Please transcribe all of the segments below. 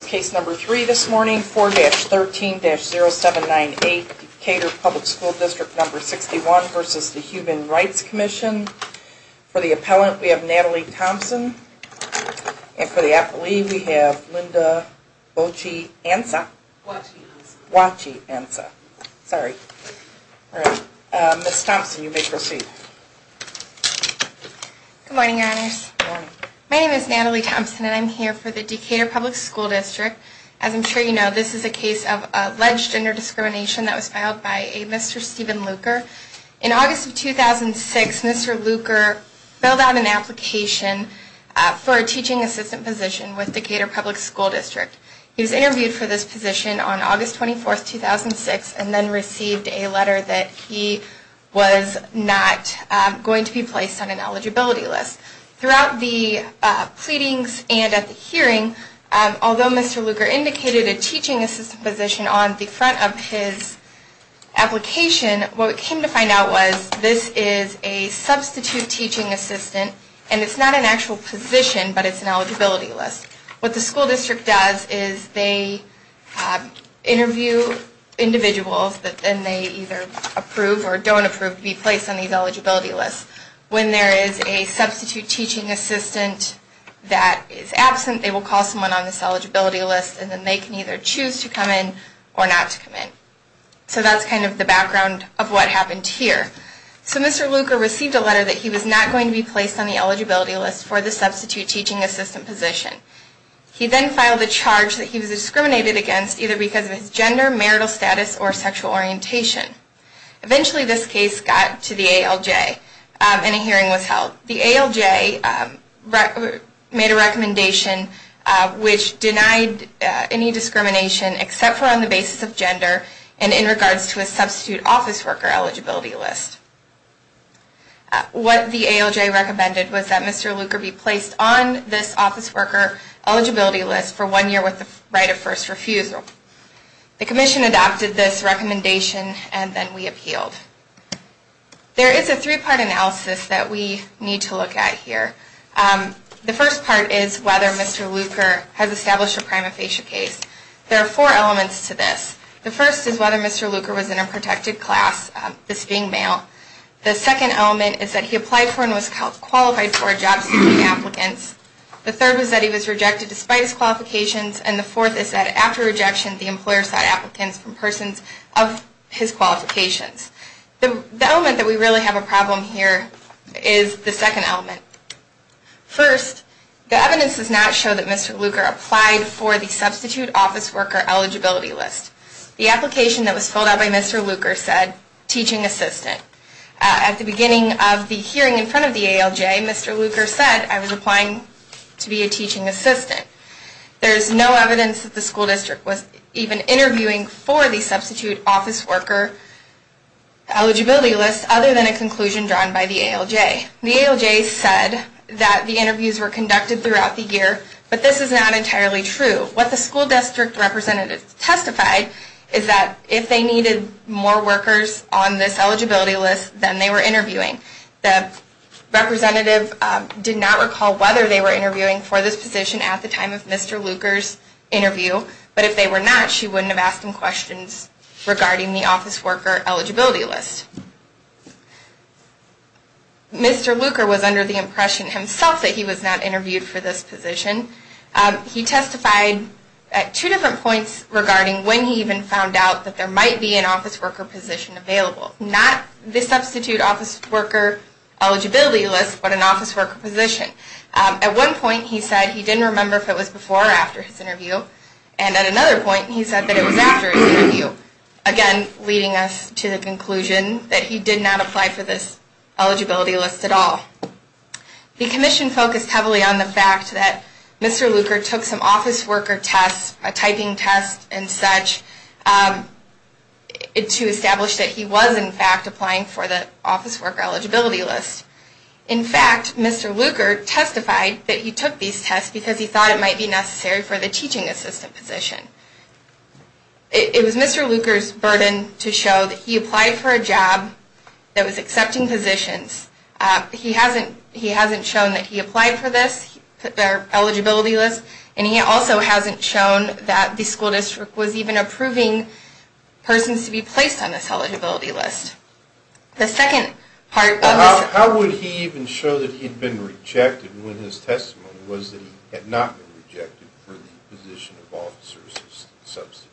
Case number three this morning, 4-13-0798, Decatur Public School District 61 v. The Human Rights Commission. For the appellant, we have Natalie Thompson, and for the appellee, we have Linda Wachiansa. Ms. Thompson, you may proceed. Good morning, Your Honors. Good morning. My name is Natalie Thompson, and I'm here for the Decatur Public School District. As I'm sure you know, this is a case of alleged gender discrimination that was filed by a Mr. Steven Luker. In August of 2006, Mr. Luker filled out an application for a teaching assistant position with Decatur Public School District. He was interviewed for this position on August 24, 2006, and then received a letter that he was not going to be placed on an eligibility list. Throughout the pleadings and at the hearing, although Mr. Luker indicated a teaching assistant position on the front of his application, what we came to find out was this is a substitute teaching assistant, and it's not an actual position, but it's an eligibility list. What the school district does is they interview individuals, and they either approve or don't approve to be placed on these eligibility lists. When there is a substitute teaching assistant that is absent, they will call someone on this eligibility list, and then they can either choose to come in or not to come in. So that's kind of the background of what happened here. So Mr. Luker received a letter that he was not going to be placed on the eligibility list for the substitute teaching assistant position. He then filed a charge that he was discriminated against either because of his gender, marital status, or sexual orientation. Eventually this case got to the ALJ, and a hearing was held. The ALJ made a recommendation which denied any discrimination except for on the basis of gender, and in regards to a substitute office worker eligibility list. What the ALJ recommended was that Mr. Luker be placed on this office worker eligibility list for one year with the right of first refusal. The commission adopted this recommendation, and then we appealed. There is a three-part analysis that we need to look at here. The first part is whether Mr. Luker has established a prima facie case. There are four elements to this. The first is whether Mr. Luker was in a protected class, this being male. The second element is that he applied for and was qualified for job seeking applicants. The third is that he was rejected despite his qualifications, and the fourth is that after rejection the employer sought applicants from persons of his qualifications. The element that we really have a problem here is the second element. First, the evidence does not show that Mr. Luker applied for the substitute office worker eligibility list. The application that was filled out by Mr. Luker said, teaching assistant. At the beginning of the hearing in front of the ALJ, Mr. Luker said, I was applying to be a teaching assistant. There is no evidence that the school district was even interviewing for the substitute office worker eligibility list, other than a conclusion drawn by the ALJ. The ALJ said that the interviews were conducted throughout the year, but this is not entirely true. What the school district representative testified is that if they needed more workers on this eligibility list, then they were interviewing. The representative did not recall whether they were interviewing for this position at the time of Mr. Luker's interview, but if they were not, she wouldn't have asked him questions regarding the office worker eligibility list. Mr. Luker was under the impression himself that he was not interviewed for this position. He testified at two different points regarding when he even found out that there might be an office worker position available. Not the substitute office worker eligibility list, but an office worker position. At one point he said he didn't remember if it was before or after his interview. And at another point he said that it was after his interview. Again, leading us to the conclusion that he did not apply for this eligibility list at all. The commission focused heavily on the fact that Mr. Luker took some office worker tests, a typing test and such, to establish that he was in fact applying for the office worker eligibility list. In fact, Mr. Luker testified that he took these tests because he thought it might be necessary for the teaching assistant position. It was Mr. Luker's burden to show that he applied for a job that was accepting positions. He hasn't shown that he applied for this eligibility list. And he also hasn't shown that the school district was even approving persons to be placed on this eligibility list. The second part of this... How would he even show that he'd been rejected when his testimony was that he had not been rejected for the position of officer substitute?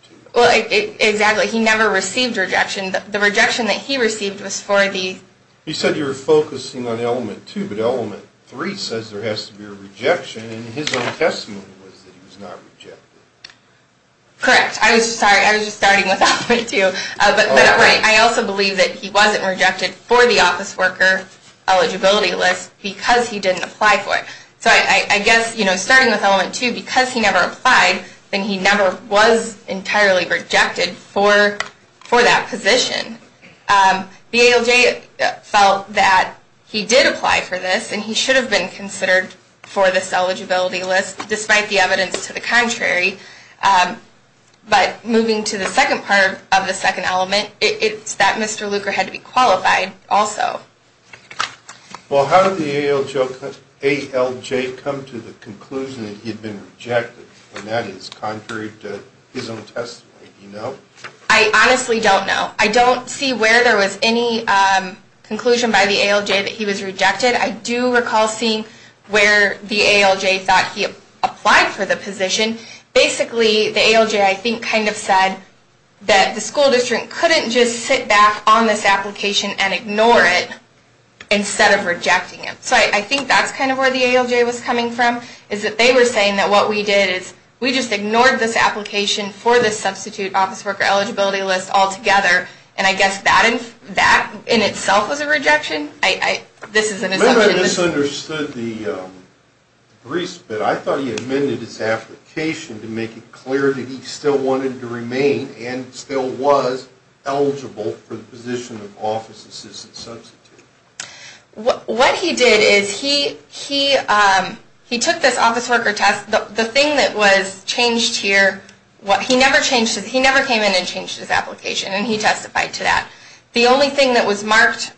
Exactly. He never received rejection. The rejection that he received was for the... He said you were focusing on element two, but element three says there has to be a rejection, and his own testimony was that he was not rejected. Correct. I was just starting with element two. But I also believe that he wasn't rejected for the office worker eligibility list because he didn't apply for it. So I guess starting with element two, because he never applied, then he never was entirely rejected for that position. The ALJ felt that he did apply for this, and he should have been considered for this eligibility list despite the evidence to the contrary. But moving to the second part of the second element, it's that Mr. Luker had to be qualified also. Well, how did the ALJ come to the conclusion that he'd been rejected when that is contrary to his own testimony? Do you know? I honestly don't know. I don't see where there was any conclusion by the ALJ that he was rejected. I do recall seeing where the ALJ thought he applied for the position. Basically, the ALJ, I think, kind of said that the school district couldn't just sit back on this application and ignore it instead of rejecting it. So I think that's kind of where the ALJ was coming from, is that they were saying that what we did is we just ignored this application for the substitute office worker eligibility list altogether, and I guess that in itself was a rejection. Maybe I misunderstood the briefs, but I thought he amended his application to make it clear that he still wanted to remain and still was eligible for the position of office assistant substitute. What he did is he took this office worker test. The thing that was changed here, he never came in and changed his application, and he testified to that. The only thing that was marked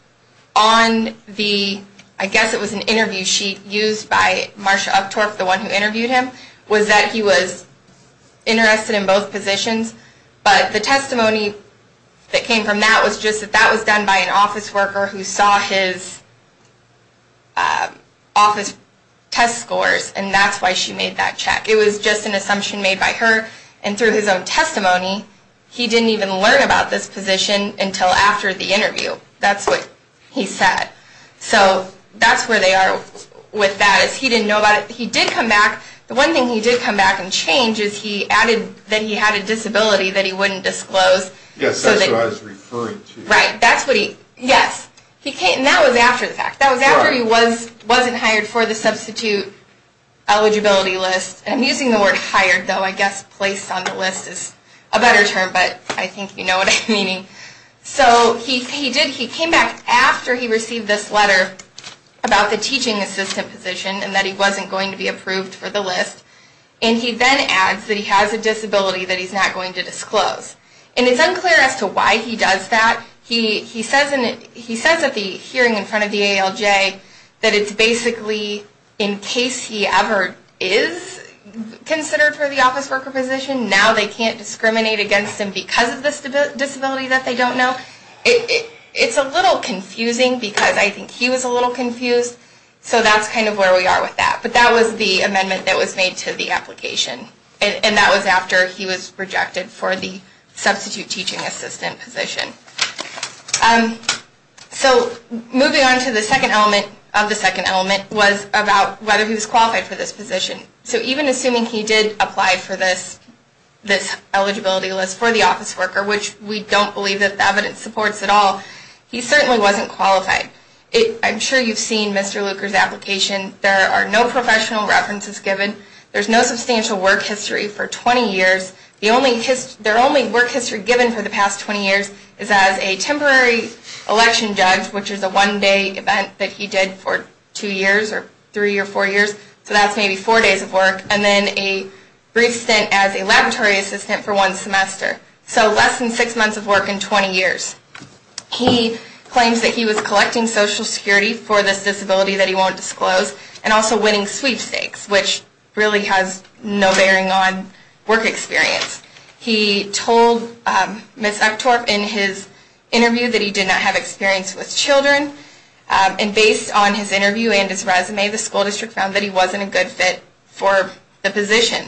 on the, I guess it was an interview sheet used by Marsha Uptorff, the one who interviewed him, was that he was interested in both positions, but the testimony that came from that was just that that was done by an office worker who saw his office test scores, and that's why she made that check. It was just an assumption made by her, and through his own testimony, he didn't even learn about this position until after the interview. That's what he said. So that's where they are with that, is he didn't know about it. He did come back. The one thing he did come back and change is he added that he had a disability that he wouldn't disclose. Yes, that's what I was referring to. Right, that's what he, yes. And that was after the fact. That was after he wasn't hired for the substitute eligibility list. I'm using the word hired, though I guess placed on the list is a better term, but I think you know what I'm meaning. So he came back after he received this letter about the teaching assistant position and that he wasn't going to be approved for the list, and he then adds that he has a disability that he's not going to disclose. And it's unclear as to why he does that. He says at the hearing in front of the ALJ that it's basically in case he ever is considered for the office worker position, now they can't discriminate against him because of the disability that they don't know. It's a little confusing because I think he was a little confused, so that's kind of where we are with that. But that was the amendment that was made to the application. And that was after he was rejected for the substitute teaching assistant position. So moving on to the second element of the second element was about whether he was qualified for this position. So even assuming he did apply for this eligibility list for the office worker, which we don't believe that the evidence supports at all, he certainly wasn't qualified. I'm sure you've seen Mr. Luker's application. There are no professional references given. There's no substantial work history for 20 years. The only work history given for the past 20 years is as a temporary election judge, which is a one-day event that he did for two years or three or four years. So that's maybe four days of work, and then a brief stint as a laboratory assistant for one semester. So less than six months of work in 20 years. He claims that he was collecting Social Security for this disability that he won't disclose, and also winning sweepstakes, which really has no bearing on work experience. He told Ms. Uchtdorf in his interview that he did not have experience with children. And based on his interview and his resume, the school district found that he wasn't a good fit for the position.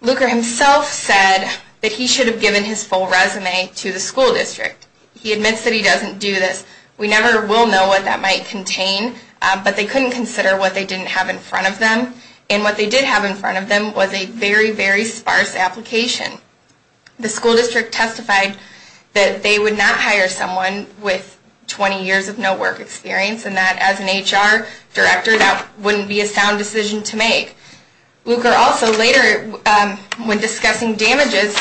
Luker himself said that he should have given his full resume to the school district. He admits that he doesn't do this. We never will know what that might contain, but they couldn't consider what they didn't have in front of them. And what they did have in front of them was a very, very sparse application. The school district testified that they would not hire someone with 20 years of no work experience, and that as an HR director, that wouldn't be a sound decision to make. Luker also later, when discussing damages,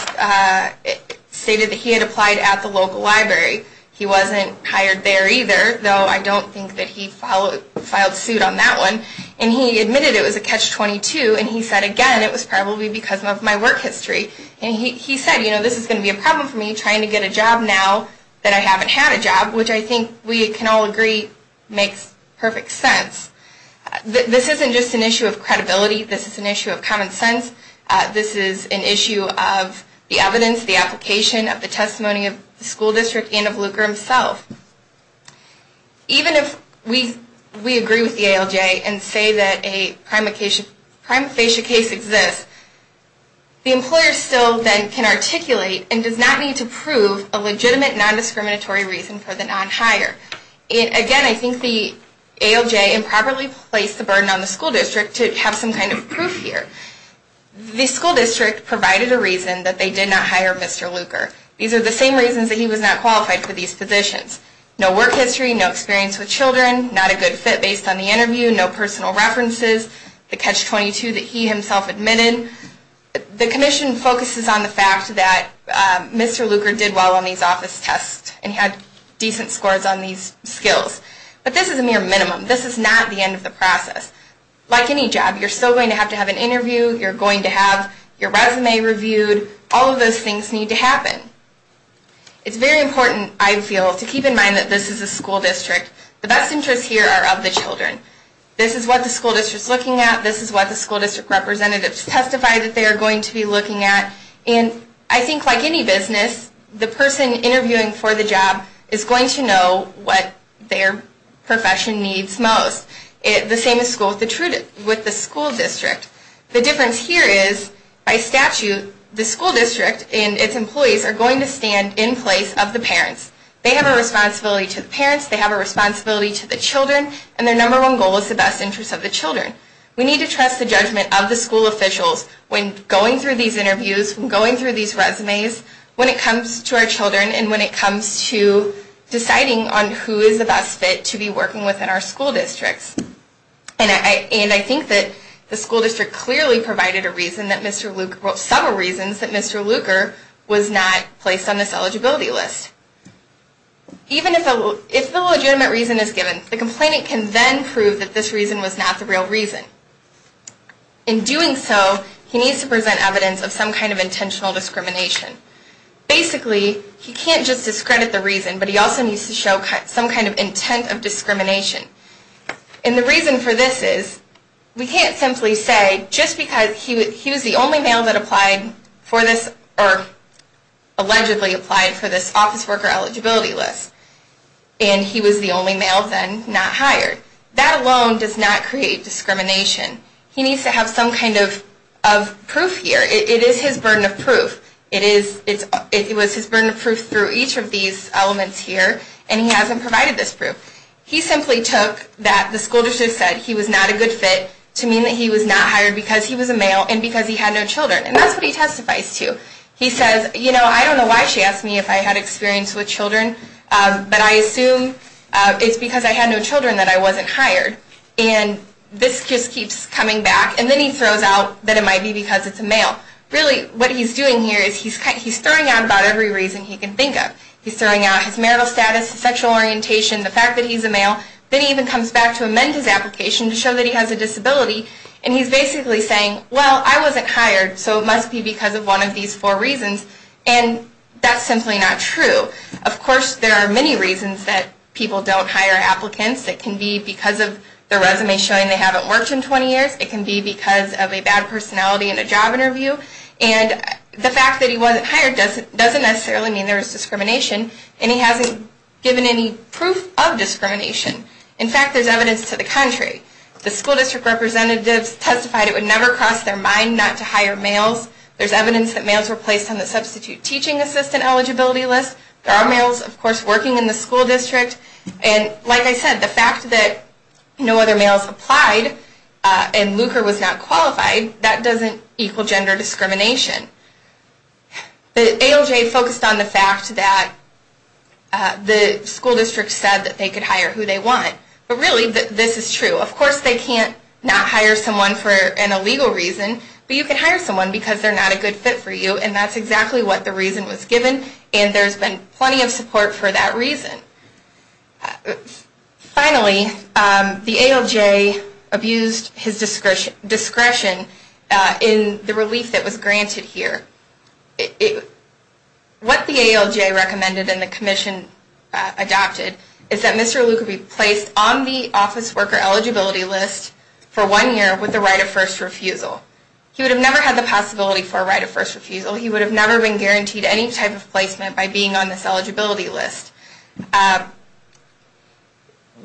stated that he had applied at the local library. He wasn't hired there either, though I don't think that he filed suit on that one. And he admitted it was a catch-22, and he said again, it was probably because of my work history. And he said, you know, this is going to be a problem for me trying to get a job now that I haven't had a job, which I think we can all agree makes perfect sense. This isn't just an issue of credibility. This is an issue of common sense. This is an issue of the evidence, the application, of the testimony of the school district, and of Luker himself. Even if we agree with the ALJ and say that a prima facie case exists, the employer still then can articulate and does not need to prove a legitimate non-discriminatory reason for the non-hire. Again, I think the ALJ improperly placed the burden on the school district to have some kind of proof here. The school district provided a reason that they did not hire Mr. Luker. These are the same reasons that he was not qualified for these positions. No work history, no experience with children, not a good fit based on the interview, no personal references, the catch-22 that he himself admitted. The commission focuses on the fact that Mr. Luker did well on these office tests and had decent scores on these skills. But this is a mere minimum. This is not the end of the process. Like any job, you're still going to have to have an interview. You're going to have your resume reviewed. All of those things need to happen. It's very important, I feel, to keep in mind that this is a school district. The best interests here are of the children. This is what the school district is looking at. This is what the school district representatives testified that they are going to be looking at. And I think like any business, the person interviewing for the job is going to know what their profession needs most. The same is true with the school district. The difference here is, by statute, the school district and its employees are going to stand in place of the parents. They have a responsibility to the parents. They have a responsibility to the children. And their number one goal is the best interests of the children. We need to trust the judgment of the school officials when going through these interviews, when going through these resumes, when it comes to our children, and when it comes to deciding on who is the best fit to be working with in our school districts. And I think that the school district clearly provided a reason that Mr. Lugar, well, some reasons that Mr. Lugar was not placed on this eligibility list. Even if a legitimate reason is given, the complainant can then prove that this reason was not the real reason. In doing so, he needs to present evidence of some kind of intentional discrimination. Basically, he can't just discredit the reason, but he also needs to show some kind of intent of discrimination. And the reason for this is, we can't simply say just because he was the only male that applied for this, or allegedly applied for this office worker eligibility list, and he was the only male then not hired. That alone does not create discrimination. He needs to have some kind of proof here. It is his burden of proof. It was his burden of proof through each of these elements here, and he hasn't provided this proof. He simply took that the school district said he was not a good fit to mean that he was not hired because he was a male and because he had no children. And that's what he testifies to. He says, you know, I don't know why she asked me if I had experience with children, but I assume it's because I had no children that I wasn't hired. And this just keeps coming back. And then he throws out that it might be because it's a male. Really, what he's doing here is he's throwing out about every reason he can think of. He's throwing out his marital status, his sexual orientation, the fact that he's a male. Then he even comes back to amend his application to show that he has a disability. And he's basically saying, well, I wasn't hired, so it must be because of one of these four reasons. And that's simply not true. Of course, there are many reasons that people don't hire applicants. It can be because of their resume showing they haven't worked in 20 years. It can be because of a bad personality in a job interview. And the fact that he wasn't hired doesn't necessarily mean there was discrimination, and he hasn't given any proof of discrimination. In fact, there's evidence to the contrary. The school district representatives testified it would never cross their mind not to hire males. There's evidence that males were placed on the substitute teaching assistant eligibility list. There are males, of course, working in the school district. And like I said, the fact that no other males applied and Lucre was not qualified, that doesn't equal gender discrimination. The ALJ focused on the fact that the school district said that they could hire who they want. But really, this is true. Of course, they can't not hire someone for an illegal reason. But you can hire someone because they're not a good fit for you, and that's exactly what the reason was given. And there's been plenty of support for that reason. Finally, the ALJ abused his discretion in the relief that was granted here. What the ALJ recommended and the commission adopted is that Mr. Lucre be placed on the office worker eligibility list for one year with the right of first refusal. He would have never had the possibility for a right of first refusal. He would have never been guaranteed any type of placement by being on this eligibility list.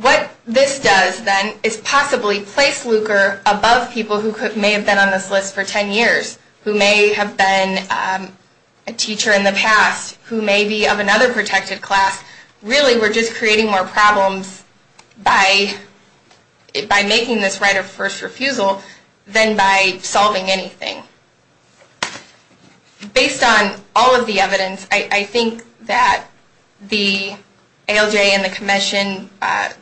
What this does, then, is possibly place Lucre above people who may have been on this list for ten years, who may have been a teacher in the past, who may be of another protected class. Really, we're just creating more problems by making this right of first refusal than by solving anything. Based on all of the evidence, I think that the ALJ and the commission,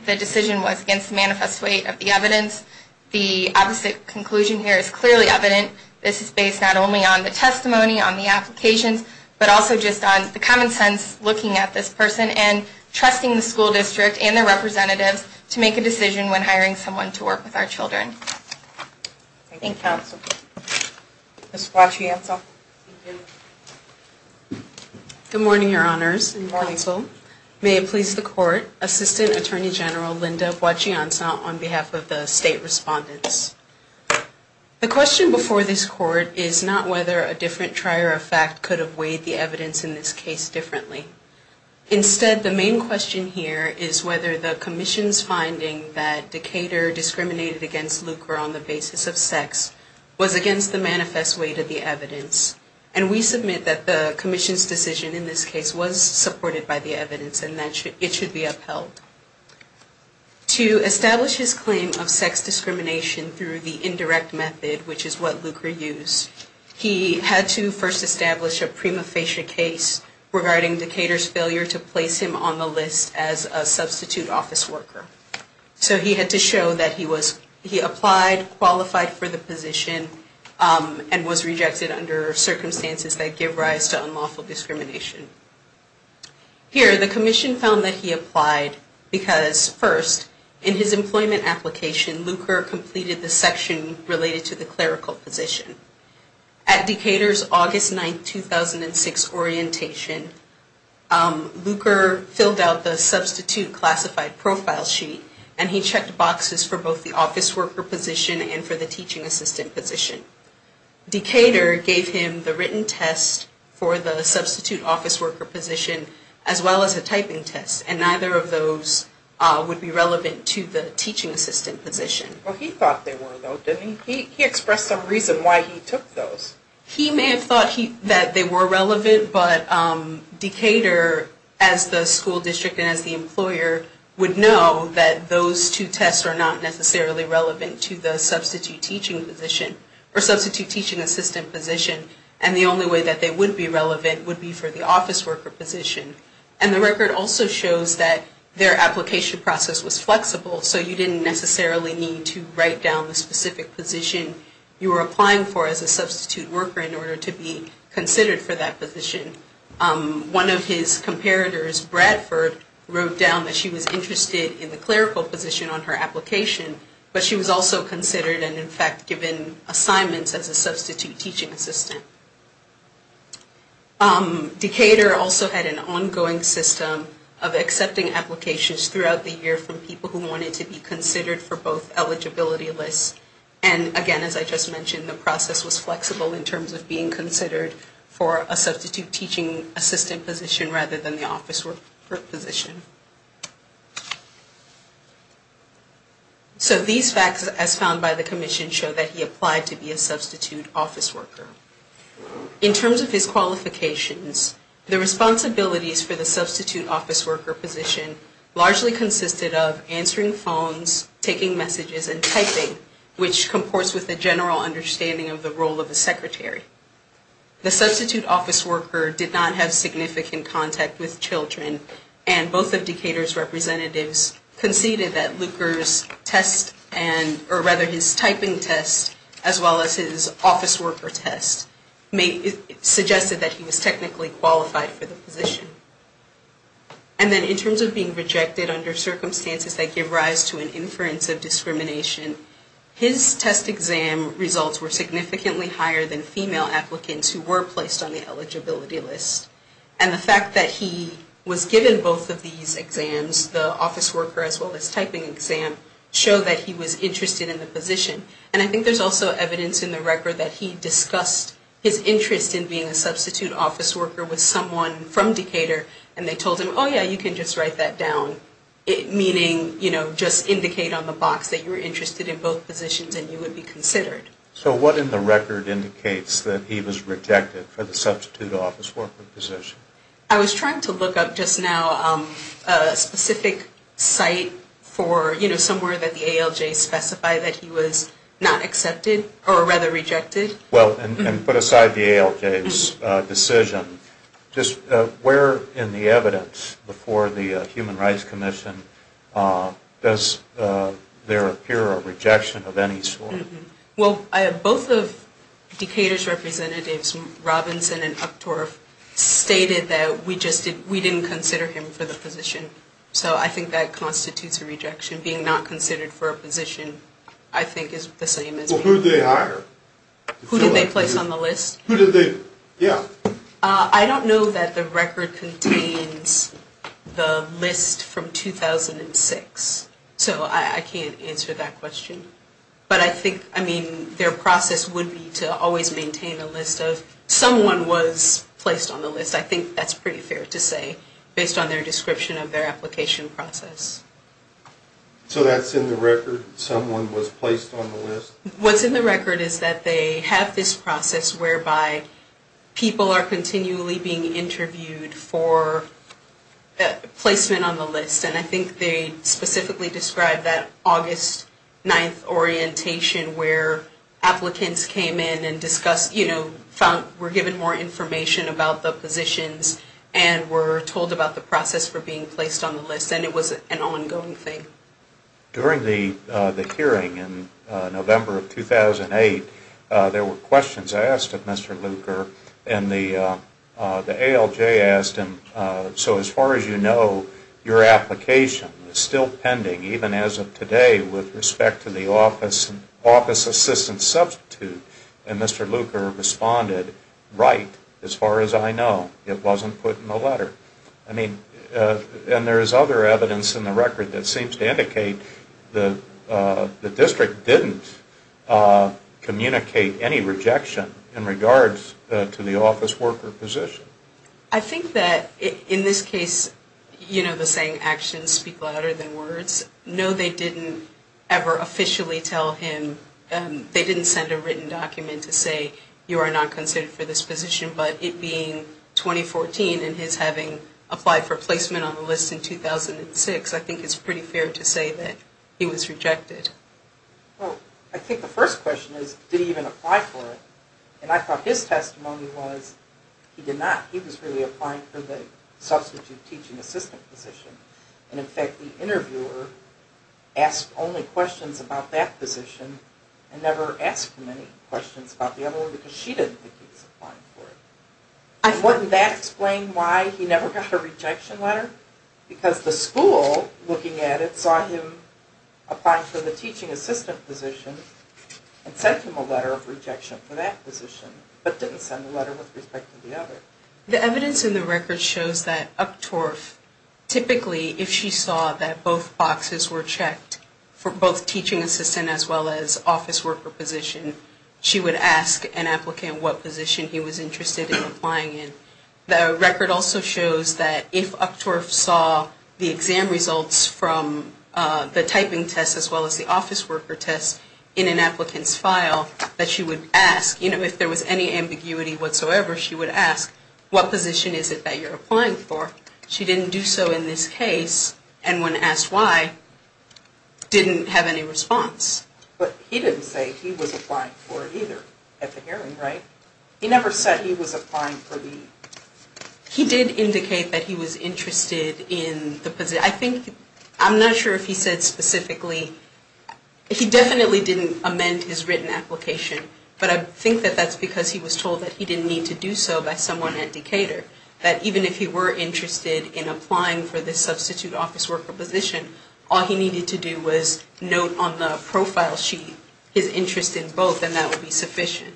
the decision was against the manifest weight of the evidence. The obvious conclusion here is clearly evident. This is based not only on the testimony, on the applications, but also just on the common sense looking at this person and trusting the school district and their representatives to make a decision when hiring someone to work with our children. Thank you, counsel. Ms. Guachianza. Thank you. Good morning, Your Honors and counsel. Good morning. May it please the court, Assistant Attorney General Linda Guachianza on behalf of the state respondents. The question before this court is not whether a different trier of fact could have weighed the evidence in this case differently. Instead, the main question here is whether the commission's finding that Decatur discriminated against Lucre on the basis of sex was against the manifest weight of the evidence. And we submit that the commission's decision in this case was supported by the evidence and that it should be upheld. To establish his claim of sex discrimination through the indirect method, which is what Lucre used, he had to first establish a prima facie case regarding Decatur's failure to place him on the list as a substitute office worker. So he had to show that he applied, qualified for the position, and was rejected under circumstances that give rise to unlawful discrimination. Here, the commission found that he applied because, first, in his employment application, Lucre completed the section related to the clerical position. At Decatur's August 9, 2006, orientation, Lucre filled out the substitute classified profile sheet and he checked boxes for both the office worker position and for the teaching assistant position. Decatur gave him the written test for the substitute office worker position, as well as a typing test, and neither of those would be relevant to the teaching assistant position. Well, he thought they were, though, didn't he? He expressed some reason why he took those. He may have thought that they were relevant, but Decatur, as the school district and as the employer, would know that those two tests are not necessarily relevant to the substitute teaching position, or substitute teaching assistant position, and the only way that they would be relevant would be for the office worker position. And the record also shows that their application process was flexible, so you didn't necessarily need to write down the specific position you were applying for as a substitute worker in order to be considered for that position. One of his comparators, Bradford, wrote down that she was interested in the clerical position on her application, but she was also considered and, in fact, given assignments as a substitute teaching assistant. Decatur also had an ongoing system of accepting applications throughout the year from people who wanted to be considered for both eligibility lists, and, again, as I just mentioned, the process was flexible in terms of being considered for a substitute teaching assistant position rather than the office worker position. So these facts, as found by the commission, show that he applied to be a substitute office worker. In terms of his qualifications, the responsibilities for the substitute office worker position largely consisted of answering phones, taking messages, and typing, which comports with the general understanding of the role of a secretary. The substitute office worker did not have significant contact with children, and both of Decatur's representatives conceded that Luker's test, or rather his typing test, as well as his office worker test, suggested that he was technically qualified for the position. And then in terms of being rejected under circumstances that give rise to an inference of discrimination, his test exam results were significantly higher than female applicants who were placed on the eligibility list. And the fact that he was given both of these exams, the office worker as well as typing exam, showed that he was interested in the position. And I think there's also evidence in the record that he discussed his interest in being a substitute office worker with someone from Decatur, and they told him, oh yeah, you can just write that down, meaning, you know, just indicate on the box that you're interested in both positions and you would be considered. So what in the record indicates that he was rejected for the substitute office worker position? I was trying to look up just now a specific site for, you know, somewhere that the ALJs specify that he was not accepted, or rather rejected. Well, and put aside the ALJs decision, just where in the evidence before the Human Rights Commission does there appear a rejection of any sort? Well, both of Decatur's representatives, Robinson and Uchtdorf, stated that we didn't consider him for the position. So I think that constitutes a rejection. Being not considered for a position, I think, is the same as being. Who did they hire? Who did they place on the list? Who did they, yeah. I don't know that the record contains the list from 2006. So I can't answer that question. But I think, I mean, their process would be to always maintain a list of someone was placed on the list. I think that's pretty fair to say, based on their description of their application process. So that's in the record? Someone was placed on the list? What's in the record is that they have this process whereby people are continually being interviewed for placement on the list. And I think they specifically describe that August 9th orientation where applicants came in and discussed, you know, were given more information about the positions and were told about the process for being placed on the list. And it was an ongoing thing. During the hearing in November of 2008, there were questions asked of Mr. Luker. And the ALJ asked him, so as far as you know, your application is still pending, even as of today, with respect to the office assistant substitute. And Mr. Luker responded, right, as far as I know. It wasn't put in the letter. I mean, and there is other evidence in the record that seems to indicate the district didn't communicate any rejection in regards to the office worker position. I think that in this case, you know, the saying actions speak louder than words. No, they didn't ever officially tell him. They didn't send a written document to say you are not considered for this position. But it being 2014 and his having applied for placement on the list in 2006, I think it's pretty fair to say that he was rejected. Well, I think the first question is, did he even apply for it? And I thought his testimony was he did not. He was really applying for the substitute teaching assistant position. And in fact, the interviewer asked only questions about that position and never asked him any questions about the other one because she didn't think he was applying for it. And wouldn't that explain why he never got a rejection letter? Because the school, looking at it, saw him applying for the teaching assistant position and sent him a letter of rejection for that position, but didn't send a letter with respect to the other. The evidence in the record shows that Uptorf, typically, if she saw that both boxes were checked for both teaching assistant as well as office worker position, she would ask an applicant what position he was interested in applying in. The record also shows that if Uptorf saw the exam results from the typing test as well as the office worker test in an applicant's file, that she would ask, you know, if there was any ambiguity whatsoever, she would ask, what position is it that you're applying for? She didn't do so in this case, and when asked why, didn't have any response. But he didn't say he was applying for it either at the hearing, right? He never said he was applying for the... He did indicate that he was interested in the position. I think, I'm not sure if he said specifically, he definitely didn't amend his written application, but I think that that's because he was told that he didn't need to do so by someone at Decatur. That even if he were interested in applying for this substitute office worker position, all he needed to do was note on the profile sheet his interest in both, and that would be sufficient.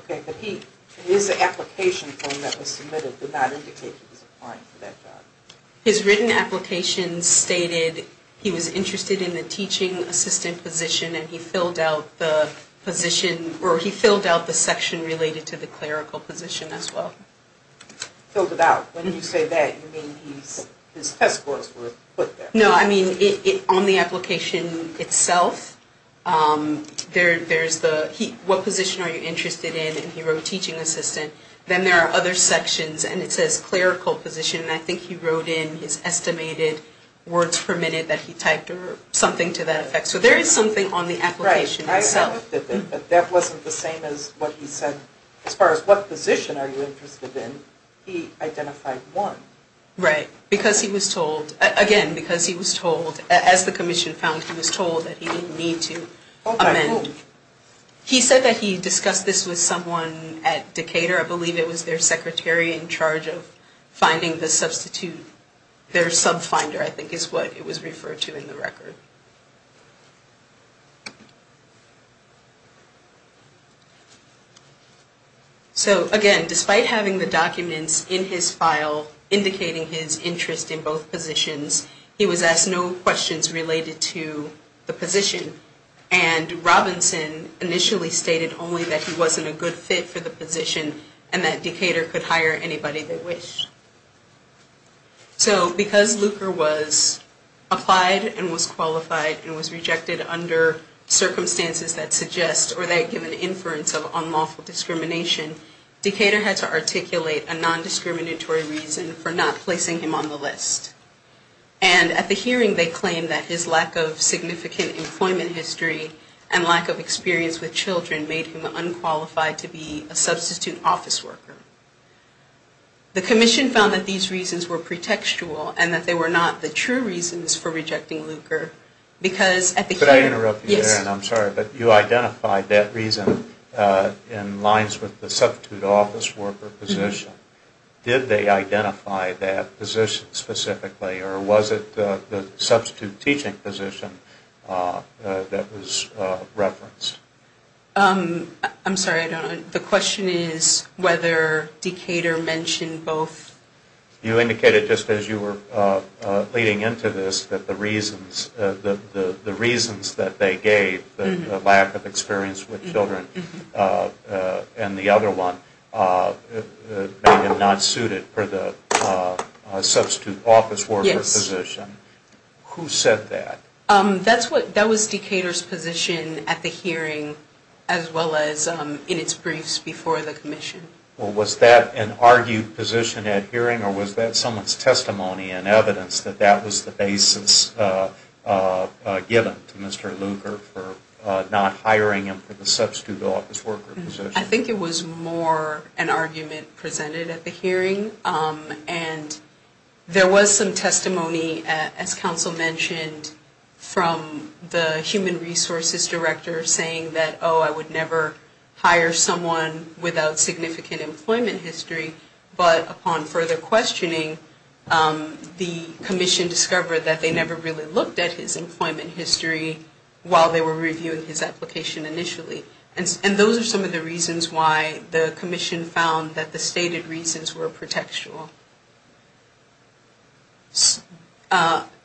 Okay, but he... His application form that was submitted did not indicate he was applying for that job. His written application stated he was interested in the teaching assistant position, and he filled out the position, or he filled out the section related to the clerical position as well. Filled it out? When you say that, you mean his test scores were put there? No, I mean, on the application itself, there's the... What position are you interested in, and he wrote teaching assistant. Then there are other sections, and it says clerical position, and I think he wrote in his estimated words per minute that he typed, or something to that effect. So there is something on the application itself. Right, but that wasn't the same as what he said. As far as what position are you interested in, he identified one. Right, because he was told, again, because he was told, as the commission found, he was told that he didn't need to amend. By whom? He said that he discussed this with someone at Decatur. I believe it was their secretary in charge of finding the substitute. So, again, despite having the documents in his file indicating his interest in both positions, he was asked no questions related to the position, and Robinson initially stated only that he wasn't a good fit for the position, and that Decatur could hire anybody they wished. So, because Luker was applied, and was qualified, and was rejected, under circumstances that suggest, or that give an inference of unlawful discrimination, Decatur had to articulate a non-discriminatory reason for not placing him on the list. And at the hearing, they claimed that his lack of significant employment history, and lack of experience with children, made him unqualified to be a substitute office worker. The commission found that these reasons were pretextual, and that they were not the true reasons for rejecting Luker, because at the hearing... Could I interrupt you there? Yes. I'm sorry, but you identified that reason in lines with the substitute office worker position. Did they identify that position specifically, or was it the substitute teaching position that was referenced? I'm sorry, I don't know. The question is whether Decatur mentioned both. You indicated, just as you were leading into this, that the reasons that they gave, the lack of experience with children, and the other one, made him not suited for the substitute office worker position. Yes. Who said that? That was Decatur's position at the hearing, as well as in its briefs before the commission. Well, was that an argued position at hearing, or was that someone's testimony and evidence that that was the basis given to Mr. Luker, for not hiring him for the substitute office worker position? I think it was more an argument presented at the hearing, and there was some testimony, as counsel mentioned, from the human resources director saying that, oh, I would never hire someone without significant employment history. But upon further questioning, the commission discovered that they never really looked at his employment history while they were reviewing his application initially. And those are some of the reasons why the commission found that the stated reasons were pretextual.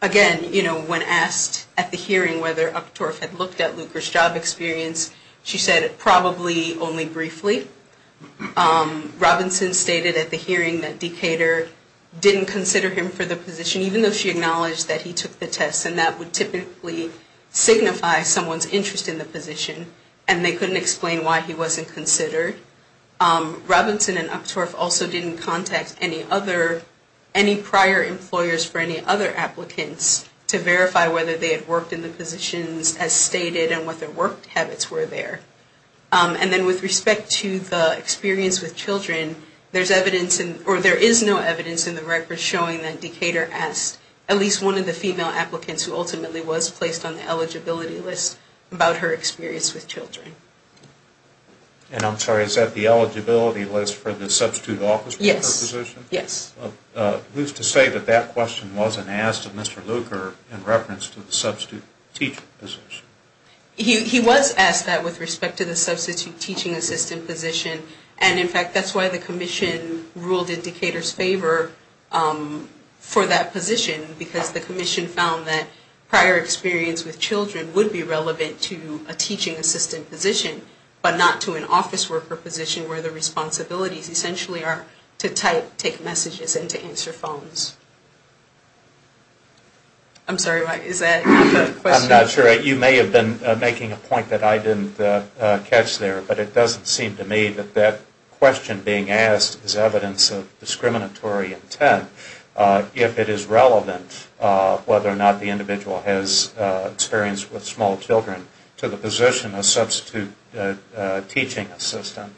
Again, when asked at the hearing whether Uchtdorf had looked at Luker's job experience, she said, probably only briefly. Robinson stated at the hearing that Decatur didn't consider him for the position, even though she acknowledged that he took the test, and that would typically signify someone's interest in the position, and they couldn't explain why he wasn't considered. Robinson and Uchtdorf also didn't contact any prior employers for any other applicants to verify whether they had worked in the positions as stated, and what their work habits were there. And then with respect to the experience with children, there is no evidence in the record showing that Decatur asked at least one of the female applicants who ultimately was placed on the eligibility list about her experience with children. And I'm sorry, is that the eligibility list for the substitute office worker position? Yes. Who's to say that that question wasn't asked of Mr. Luker in reference to the substitute teacher position? He was asked that with respect to the substitute teaching assistant position, and in fact that's why the commission ruled in Decatur's favor for that position, because the commission found that prior experience with children would be relevant to a teaching assistant position, but not to an office worker position where the responsibilities essentially are to type, take messages, and to answer phones. I'm sorry, is that the question? I'm not sure. You may have been making a point that I didn't catch there, but it doesn't seem to me that that question being asked is evidence of discriminatory intent if it is relevant whether or not the individual has experience with small children to the position of substitute teaching assistant.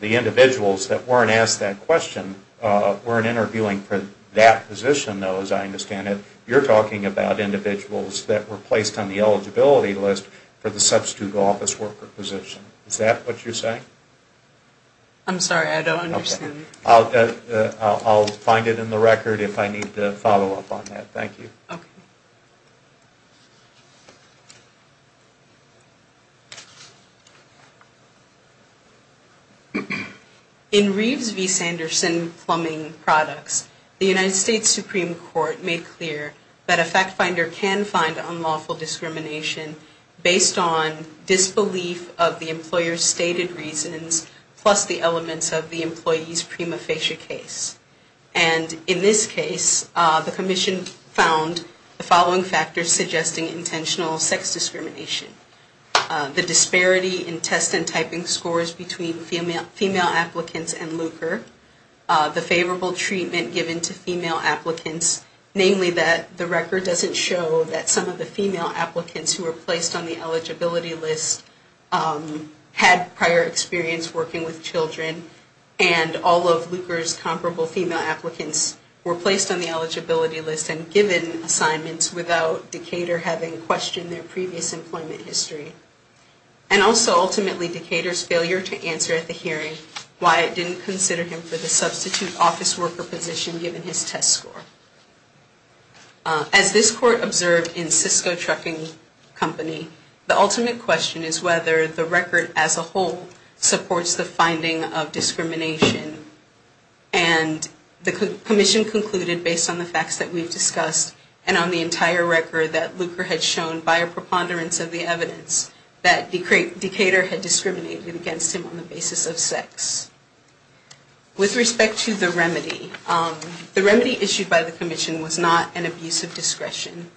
The individuals that weren't asked that question weren't interviewing for that position, though, as I understand it. You're talking about individuals that were placed on the eligibility list for the substitute office worker position. Is that what you're saying? I'm sorry, I don't understand. I'll find it in the record if I need to follow up on that. Thank you. Okay. In Reeves v. Sanderson plumbing products, the United States Supreme Court made clear that a fact finder can find unlawful discrimination based on disbelief of the employer's stated reasons plus the elements of the employee's prima facie case. And in this case, the commission found the following factors suggesting intentional sex discrimination. The disparity in test and typing scores between female applicants and LUCRE. The favorable treatment given to female applicants, namely that the record doesn't show that some of the female applicants who were placed on the eligibility list had prior experience working with children and all of LUCRE's comparable female applicants were placed on the eligibility list and given assignments without Decatur having questioned their previous employment history. And also, ultimately, Decatur's failure to answer at the hearing why it didn't consider him for the substitute office worker position given his test score. As this court observed in Cisco Trucking Company, the ultimate question is whether the record as a whole supports the finding of discrimination. And the commission concluded based on the facts that we've discussed and on the entire record that LUCRE had shown by a preponderance of the evidence that Decatur had discriminated against him on the basis of sex. With respect to the remedy, the remedy issued by the commission was not an abuse of discretion.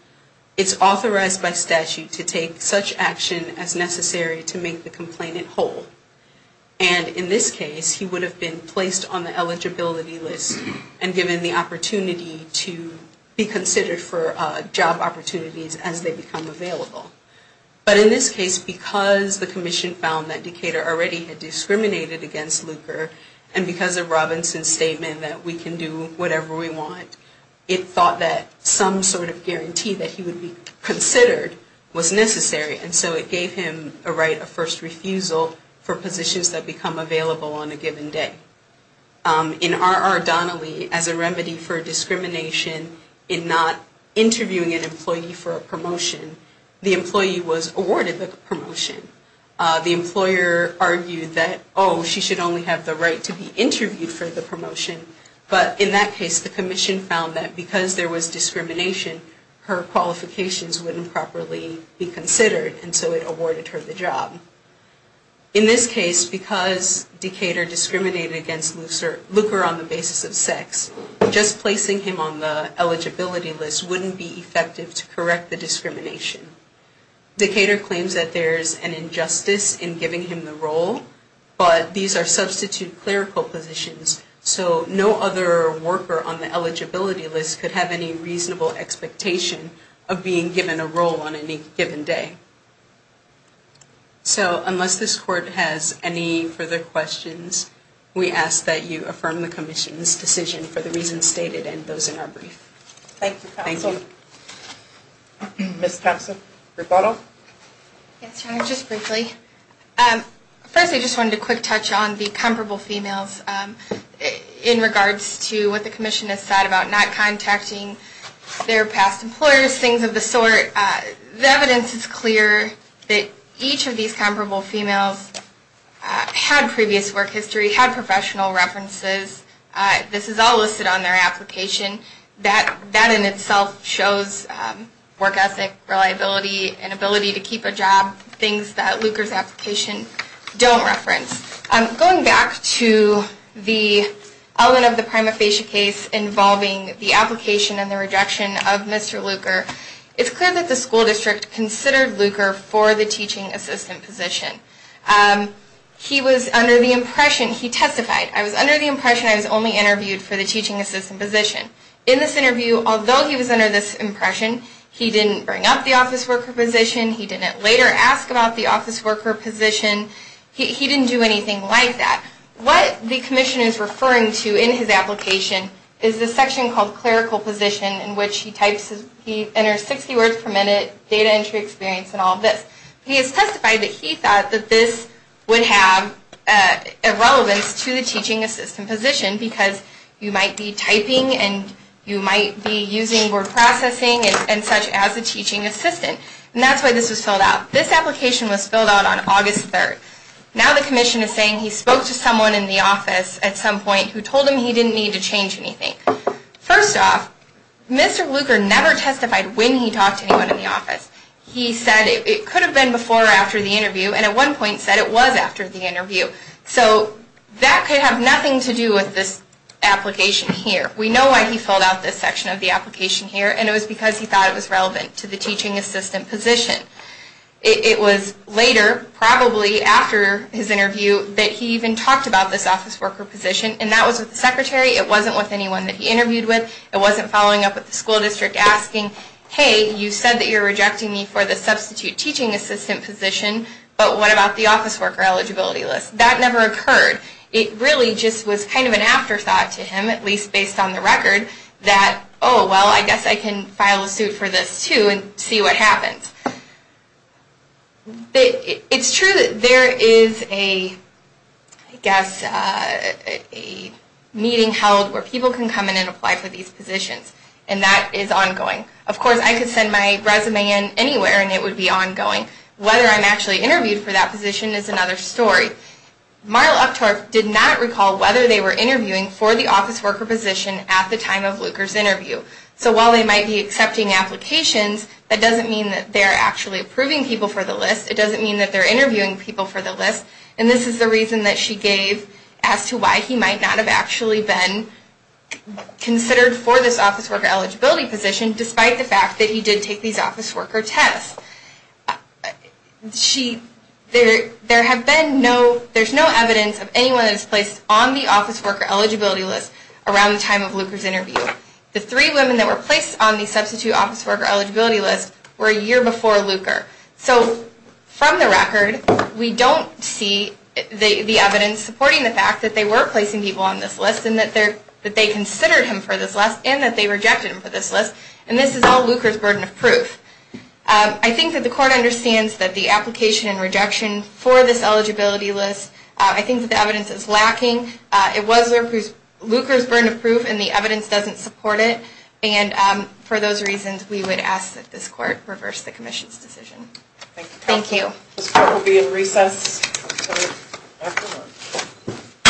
It's authorized by statute to take such action as necessary to make the complainant whole. And in this case, he would have been placed on the eligibility list and given the opportunity to be considered for job opportunities as they become available. But in this case, because the commission found that Decatur already had discriminated against LUCRE and because of Robinson's statement that we can do whatever we want, it thought that some sort of guarantee that he would be considered was necessary. And so it gave him a right of first refusal for positions that become available on a given day. In R.R. Donnelly, as a remedy for discrimination in not interviewing an employee for a promotion, the employee was awarded the promotion. The employer argued that, oh, she should only have the right to be interviewed for the promotion. But in that case, the commission found that because there was discrimination, her qualifications wouldn't properly be considered, and so it awarded her the job. In this case, because Decatur discriminated against LUCRE on the basis of sex, just placing him on the eligibility list wouldn't be effective to correct the discrimination. Decatur claims that there's an injustice in giving him the role, but these are substitute clerical positions, so no other worker on the eligibility list could have any reasonable expectation of being given a role on any given day. So unless this Court has any further questions, we ask that you affirm the commission's decision for the reasons stated and those in our brief. Thank you, Counsel. Ms. Thompson, rebuttal. Yes, Your Honor, just briefly. First, I just wanted to quick touch on the comparable females in regards to what the commission has said about not contacting their past employers, things of the sort. The evidence is clear that each of these comparable females had previous work history, had professional references. This is all listed on their application. That in itself shows work ethic, reliability, and ability to keep a job, things that LUCRE's application don't reference. Going back to the element of the prima facie case involving the application and the rejection of Mr. LUCRE, it's clear that the school district considered LUCRE for the teaching assistant position. He was under the impression, he testified, I was under the impression I was only interviewed for the teaching assistant position. In this interview, although he was under this impression, he didn't bring up the office worker position. He didn't later ask about the office worker position. He didn't do anything like that. What the commission is referring to in his application is this section called clerical position, in which he enters 60 words per minute, data entry experience, and all of this. He has testified that he thought that this would have irrelevance to the teaching assistant position because you might be typing and you might be using word processing and such as a teaching assistant. And that's why this was filled out. This application was filled out on August 3rd. Now the commission is saying he spoke to someone in the office at some point who told him he didn't need to change anything. First off, Mr. LUCRE never testified when he talked to anyone in the office. He said it could have been before or after the interview, and at one point said it was after the interview. So that could have nothing to do with this application here. We know why he filled out this section of the application here, and it was because he thought it was relevant to the teaching assistant position. It was later, probably after his interview, that he even talked about this office worker position, and that was with the secretary. It wasn't with anyone that he interviewed with. It wasn't following up with the school district asking, hey, you said that you're rejecting me for the substitute teaching assistant position, but what about the office worker eligibility list? That never occurred. It really just was kind of an afterthought to him, at least based on the record, that, oh, well, I guess I can file a suit for this too and see what happens. It's true that there is a, I guess, a meeting held where people can come in and apply for these positions, and that is ongoing. Of course, I could send my resume in anywhere, and it would be ongoing. Whether I'm actually interviewed for that position is another story. Marla Uptorf did not recall whether they were interviewing for the office worker position at the time of LUCRE's interview. So while they might be accepting applications, that doesn't mean that they are actually approving people for the list. It doesn't mean that they're interviewing people for the list, and this is the reason that she gave as to why he might not have actually been considered for this office worker eligibility position, despite the fact that he did take these office worker tests. She, there have been no, there's no evidence of anyone that's placed on the office worker eligibility list around the time of LUCRE's interview. The three women that were placed on the substitute office worker eligibility list were a year before LUCRE. So from the record, we don't see the evidence supporting the fact that they were placing people on this list and that they considered him for this list and that they rejected him for this list, and this is all LUCRE's burden of proof. I think that the court understands that the application and rejection for this eligibility list, I think that the evidence is lacking. It was LUCRE's burden of proof and the evidence doesn't support it, and for those reasons, we would ask that this court reverse the commission's decision. Thank you. Thank you. This court will be in recess until afternoon.